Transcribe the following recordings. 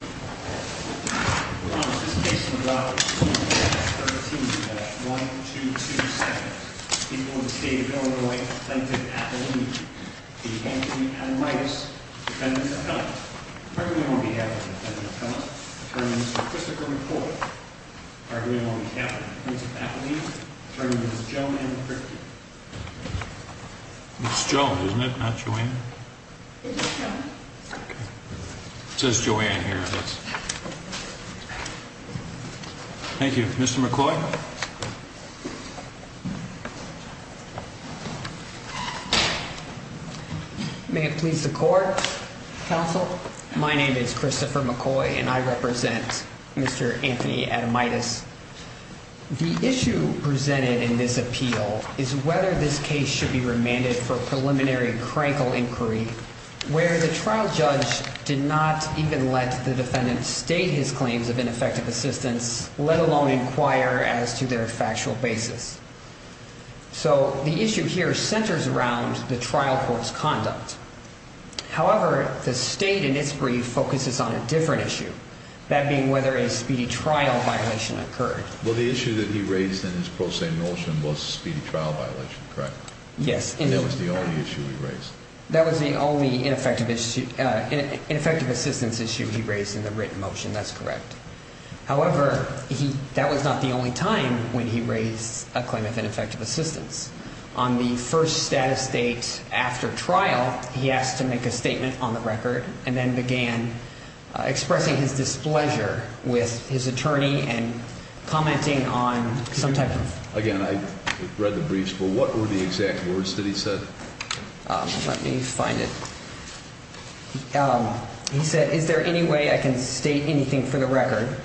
Defendant Appellant, pardon me on behalf of the Defendant Appellant, Attorney Mr. Christopher McCoy, pardon me on behalf of the Prince of Appalachia, Attorney Ms. Joan Ann Kripke. It's Joan, isn't it? Not Joan? It's Joan. It says Joan here. Thank you. Mr. McCoy? May it please the Court, Counsel. My name is Christopher McCoy, and I represent Mr. Anthony Adamaitis. The issue presented in this appeal is whether this case should be remanded for preliminary and critical inquiry where the trial judge did not even let the defendant state his claims of ineffective assistance, let alone inquire as to their factual basis. So the issue here centers around the trial court's conduct. However, the state in its brief focuses on a different issue, that being whether a speedy trial violation occurred. Well, the issue that he raised in his pro se motion was a speedy trial violation, correct? Yes. And that was the only issue he raised. That was the only ineffective assistance issue he raised in the written motion, that's correct. However, that was not the only time when he raised a claim of ineffective assistance. On the first status date after trial, he asked to make a statement on the record and then began expressing his displeasure with his attorney and commenting on some type of – Again, I read the briefs, but what were the exact words that he said? Let me find it. He said, is there any way I can state anything for the record?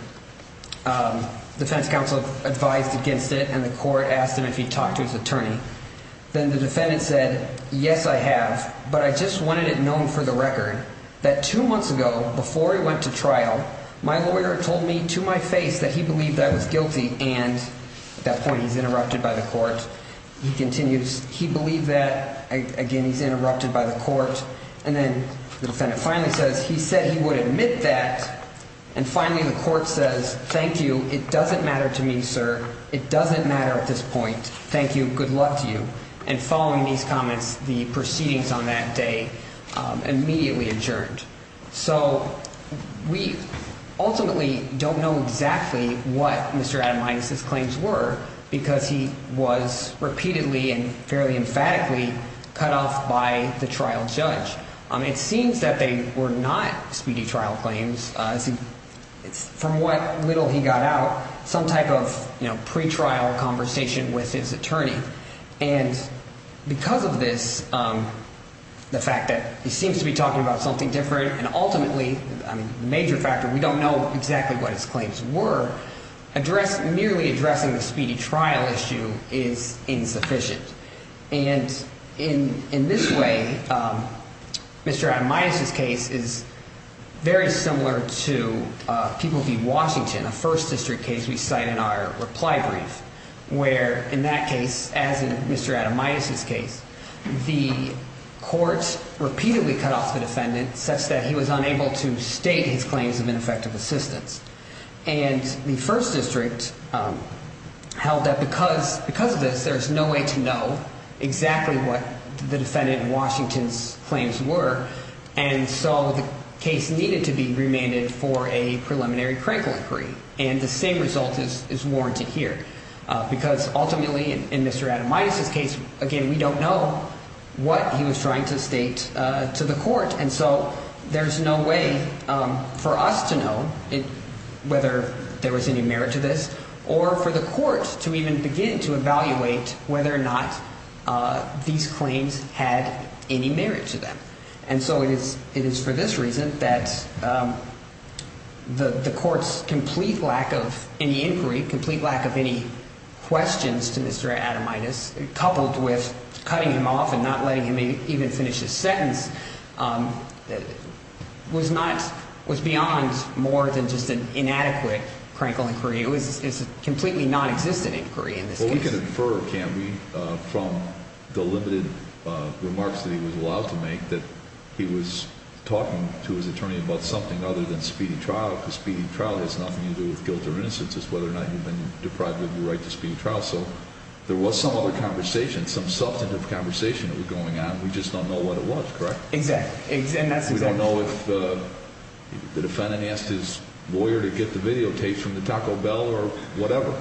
The defense counsel advised against it, and the court asked him if he'd talked to his attorney. Then the defendant said, yes, I have, but I just wanted it known for the record that two months ago, before he went to trial, my lawyer told me to my face that he believed I was guilty. And at that point he's interrupted by the court. He continues, he believed that. Again, he's interrupted by the court. And then the defendant finally says, he said he would admit that. And finally the court says, thank you, it doesn't matter to me, sir. It doesn't matter at this point. Thank you. Good luck to you. And following these comments, the proceedings on that day immediately adjourned. So we ultimately don't know exactly what Mr. Adamides' claims were because he was repeatedly and fairly emphatically cut off by the trial judge. It seems that they were not speedy trial claims. From what little he got out, some type of pretrial conversation with his attorney. And because of this, the fact that he seems to be talking about something different and ultimately, the major factor, we don't know exactly what his claims were, merely addressing the speedy trial issue is insufficient. And in this way, Mr. Adamides' case is very similar to People v. Washington, a first district case we cite in our reply brief, where in that case, as in Mr. Adamides' case, the court repeatedly cut off the defendant such that he was unable to state his claims of ineffective assistance. And the first district held that because of this, there's no way to know exactly what the defendant in Washington's claims were. And so the case needed to be remanded for a preliminary critical inquiry. And the same result is warranted here. Because ultimately, in Mr. Adamides' case, again, we don't know what he was trying to state to the court. And so there's no way for us to know whether there was any merit to this or for the court to even begin to evaluate whether or not these claims had any merit to them. And so it is for this reason that the court's complete lack of any inquiry, complete lack of any questions to Mr. Adamides, coupled with cutting him off and not letting him even finish his sentence, was beyond more than just an inadequate critical inquiry. It was a completely nonexistent inquiry in this case. We can infer, can't we, from the limited remarks that he was allowed to make that he was talking to his attorney about something other than speeding trial. Because speeding trial has nothing to do with guilt or innocence. It's whether or not you've been deprived of your right to speed trial. So there was some other conversation, some substantive conversation that was going on. We just don't know what it was, correct? Exactly. And that's exactly true. We don't know if the defendant asked his lawyer to get the videotape from the Taco Bell or whatever.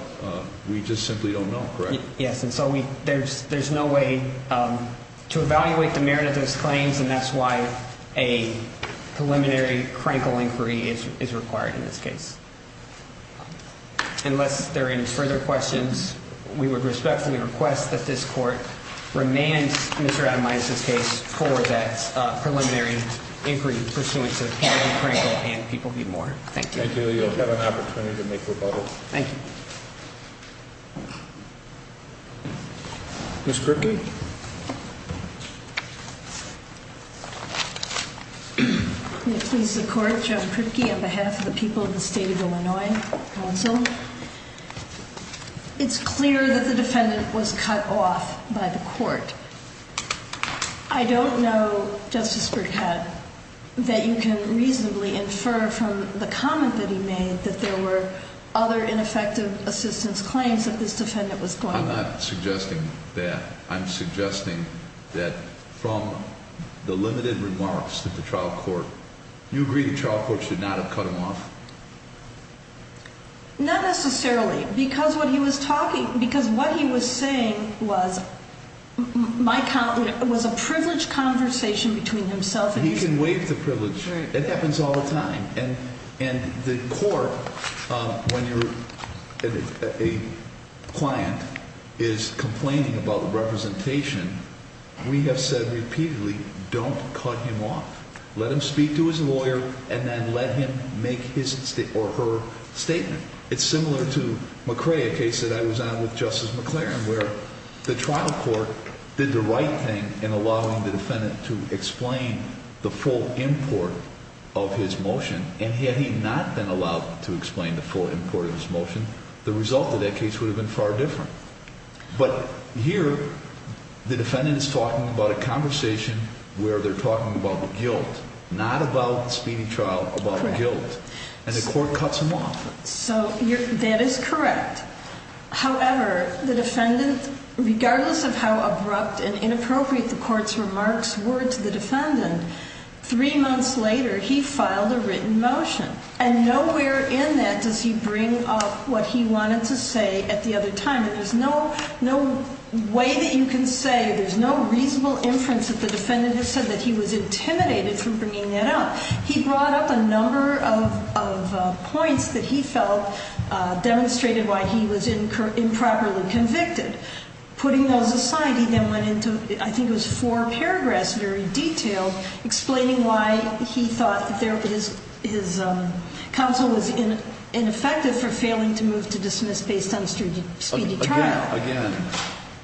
We just simply don't know, correct? Yes. And so there's no way to evaluate the merit of those claims. And that's why a preliminary crankle inquiry is required in this case. Unless there are any further questions, we would respectfully request that this court remand Mr. Adamides' case for that preliminary inquiry pursuant to having crankled and people be mourned. Thank you. Thank you. Do you have an opportunity to make rebuttal? Thank you. Ms. Kripke? May it please the court, John Kripke on behalf of the people of the State of Illinois Council. It's clear that the defendant was cut off by the court. I don't know, Justice Burkett, that you can reasonably infer from the comment that he made that there were other ineffective assistance claims that this defendant was going to. I'm not suggesting that. I'm suggesting that from the limited remarks that the trial court, you agree the trial court should not have cut him off? Not necessarily, because what he was talking, because what he was saying was a privileged conversation between himself and the defendant. He can waive the privilege. It happens all the time. And the court, when a client is complaining about representation, we have said repeatedly, don't cut him off. Let him speak to his lawyer and then let him make his or her statement. It's similar to McCrae, a case that I was on with Justice McLaren, where the trial court did the right thing in allowing the defendant to explain the full import of his motion. And had he not been allowed to explain the full import of his motion, the result of that case would have been far different. But here, the defendant is talking about a conversation where they're talking about guilt, not about speeding trial, about guilt. And the court cuts him off. So that is correct. However, the defendant, regardless of how abrupt and inappropriate the court's remarks were to the defendant, three months later, he filed a written motion. And nowhere in that does he bring up what he wanted to say at the other time. And there's no way that you can say, there's no reasonable inference that the defendant has said that he was intimidated from bringing that up. He brought up a number of points that he felt demonstrated why he was improperly convicted. Putting those aside, he then went into, I think it was four paragraphs, very detailed, explaining why he thought his counsel was ineffective for failing to move to dismiss based on speedy trial. Again,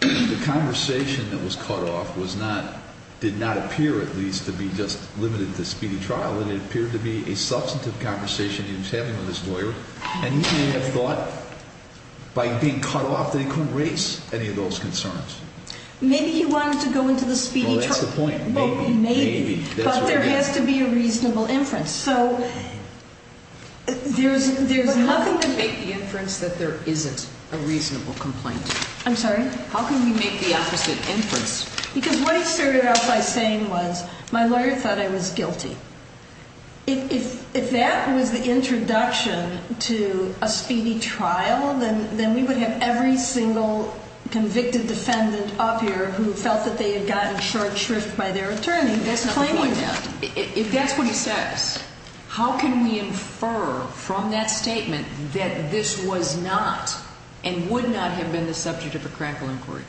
the conversation that was cut off did not appear, at least, to be just limited to speedy trial. And it appeared to be a substantive conversation he was having with his lawyer. And he may have thought, by being cut off, that he couldn't raise any of those concerns. Maybe he wanted to go into the speedy trial. Well, that's the point. Maybe. Maybe. But there has to be a reasonable inference. So there's nothing to make the inference that there isn't a reasonable complaint. I'm sorry? How can we make the opposite inference? Because what he started out by saying was, my lawyer thought I was guilty. If that was the introduction to a speedy trial, then we would have every single convicted defendant up here who felt that they had gotten short shrift by their attorney. That's not the point. If that's what he says, how can we infer from that statement that this was not and would not have been the subject of a crackle inquiry?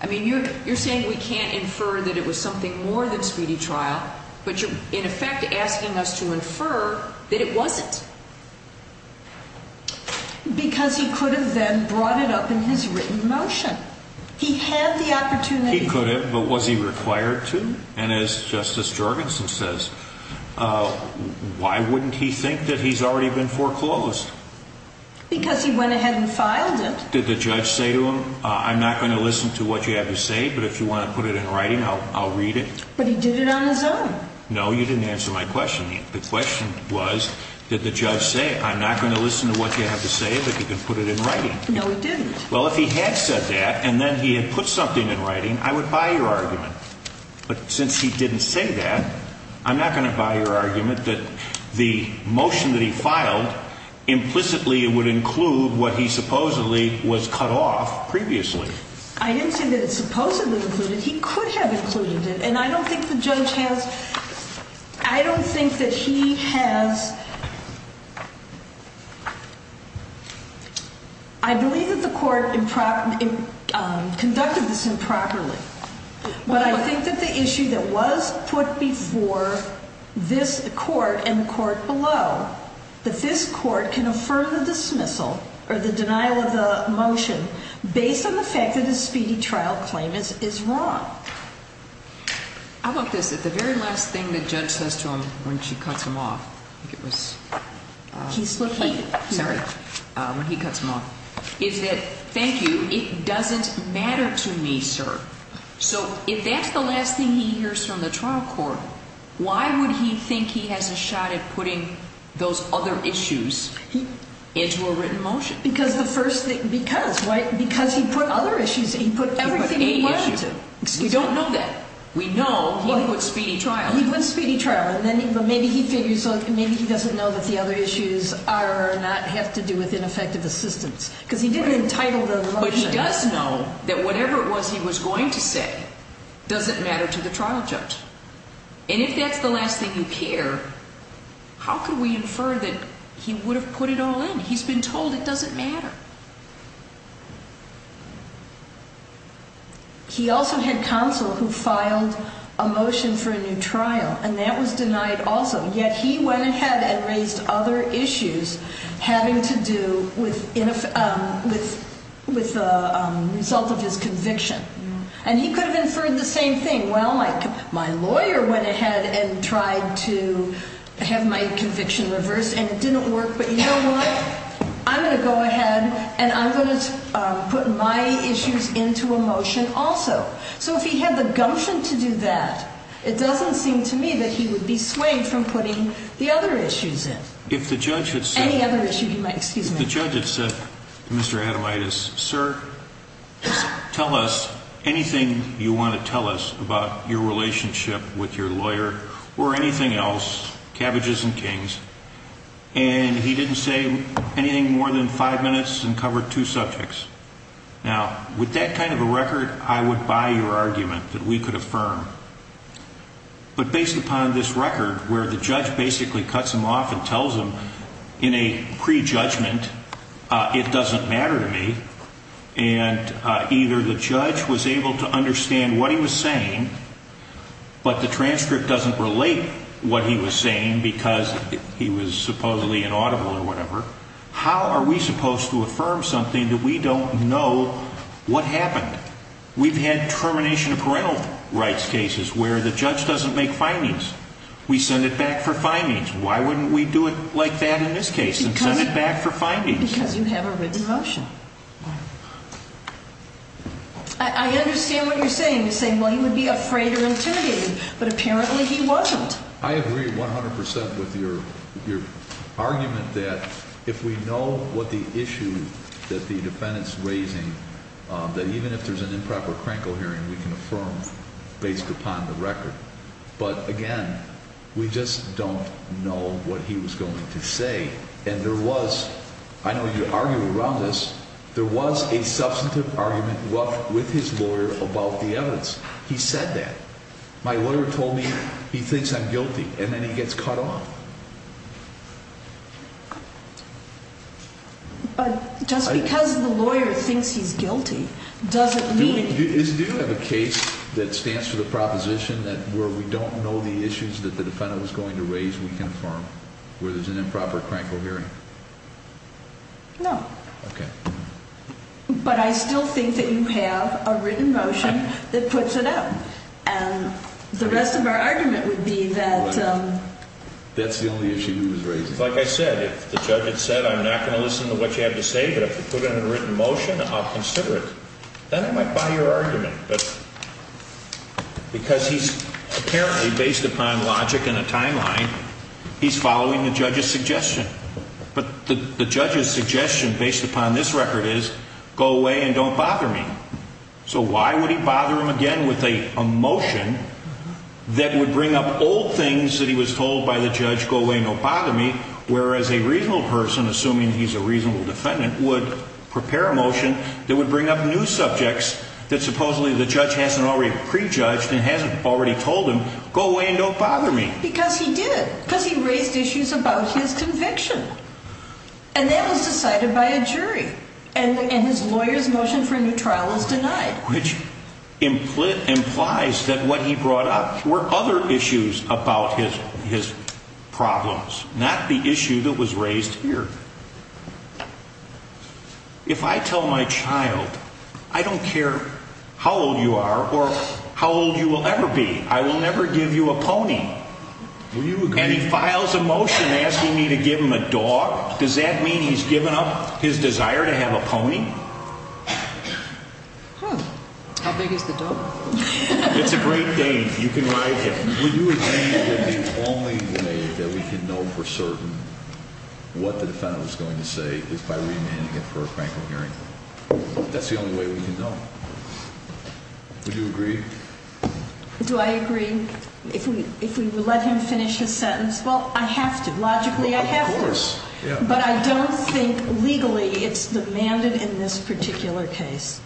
I mean, you're saying we can't infer that it was something more than speedy trial, but you're, in effect, asking us to infer that it wasn't. Because he could have then brought it up in his written motion. He had the opportunity. He could have, but was he required to? And as Justice Jorgensen says, why wouldn't he think that he's already been foreclosed? Because he went ahead and filed it. Did the judge say to him, I'm not going to listen to what you have to say, but if you want to put it in writing, I'll read it? But he did it on his own. No, you didn't answer my question yet. The question was, did the judge say, I'm not going to listen to what you have to say, but you can put it in writing? No, he didn't. Well, if he had said that, and then he had put something in writing, I would buy your argument. But since he didn't say that, I'm not going to buy your argument that the motion that he filed implicitly would include what he supposedly was cut off previously. I didn't say that it supposedly included. He could have included it. And I don't think the judge has – I don't think that he has – I believe that the court conducted this improperly. But I think that the issue that was put before this court and the court below, that this court can affirm the dismissal or the denial of the motion based on the fact that his speedy trial claim is wrong. How about this? That the very last thing the judge says to him when she cuts him off – I think it was – He's looking. Sorry. When he cuts him off, is that, thank you, it doesn't matter to me, sir. So if that's the last thing he hears from the trial court, why would he think he has a shot at putting those other issues into a written motion? Because the first thing – because, right? Because he put other issues – he put everything he wanted to. He put a issue. We don't know that. We know he put speedy trial. He put speedy trial. But maybe he figures – maybe he doesn't know that the other issues are – not have to do with ineffective assistance. Because he didn't entitle the motion. But he does know that whatever it was he was going to say doesn't matter to the trial judge. And if that's the last thing you hear, how can we infer that he would have put it all in? He's been told it doesn't matter. He also had counsel who filed a motion for a new trial, and that was denied also. Yet he went ahead and raised other issues having to do with the result of his conviction. And he could have inferred the same thing. Well, my lawyer went ahead and tried to have my conviction reversed, and it didn't work. But you know what? I'm going to go ahead, and I'm going to put my issues into a motion also. So if he had the gumption to do that, it doesn't seem to me that he would be swayed from putting the other issues in. If the judge had said – Any other issue he might – excuse me. If the judge had said, Mr. Adamaitis, sir, tell us anything you want to tell us about your relationship with your lawyer or anything else, and he didn't say anything more than five minutes and covered two subjects. Now, with that kind of a record, I would buy your argument that we could affirm. But based upon this record where the judge basically cuts him off and tells him in a prejudgment, it doesn't matter to me. And either the judge was able to understand what he was saying, but the transcript doesn't relate what he was saying because he was supposedly inaudible or whatever. How are we supposed to affirm something that we don't know what happened? We've had termination of parental rights cases where the judge doesn't make findings. We send it back for findings. Why wouldn't we do it like that in this case and send it back for findings? Because you have a written motion. I understand what you're saying. You're saying, well, he would be afraid or intimidated, but apparently he wasn't. I agree 100 percent with your argument that if we know what the issue that the defendant's raising, that even if there's an improper crankle hearing, we can affirm based upon the record. But, again, we just don't know what he was going to say. And there was, I know you argue around this, there was a substantive argument with his lawyer about the evidence. He said that. My lawyer told me he thinks I'm guilty. And then he gets cut off. But just because the lawyer thinks he's guilty doesn't mean— Do we have a case that stands for the proposition that where we don't know the issues that the defendant was going to raise, we can affirm where there's an improper crankle hearing? No. Okay. But I still think that you have a written motion that puts it out. And the rest of our argument would be that— That's the only issue he was raising. Like I said, if the judge had said, I'm not going to listen to what you have to say, but if you put in a written motion, I'll consider it, then I might buy your argument. Because he's apparently, based upon logic and a timeline, he's following the judge's suggestion. But the judge's suggestion, based upon this record, is go away and don't bother me. So why would he bother him again with a motion that would bring up old things that he was told by the judge, go away, don't bother me, whereas a reasonable person, assuming he's a reasonable defendant, would prepare a motion that would bring up new subjects that supposedly the judge hasn't already prejudged and hasn't already told him, go away and don't bother me? Because he did. Because he raised issues about his conviction. And that was decided by a jury. And his lawyer's motion for a new trial was denied. Which implies that what he brought up were other issues about his problems, not the issue that was raised here. If I tell my child, I don't care how old you are or how old you will ever be, I will never give you a pony, and he files a motion asking me to give him a dog, does that mean he's given up his desire to have a pony? How big is the dog? It's a great day. You can ride him. Would you agree that the only way that we can know for certain what the defendant was going to say is by remanding him for a frankly hearing? That's the only way we can know. Would you agree? Do I agree? If we let him finish his sentence? Well, I have to. Logically, I have to. Of course. But I don't think legally it's demanded in this particular case.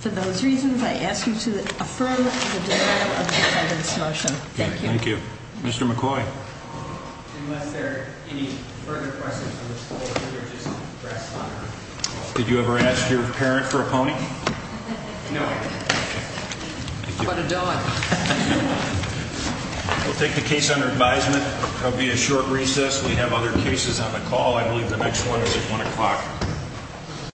For those reasons, I ask you to affirm the denial of the defendant's motion. Thank you. Thank you. Mr. McCoy. Unless there are any further questions, I would just press on. Did you ever ask your parent for a pony? No. How about a dog? We'll take the case under advisement. There will be a short recess. We have other cases on the call. I believe the next one is at 1 o'clock.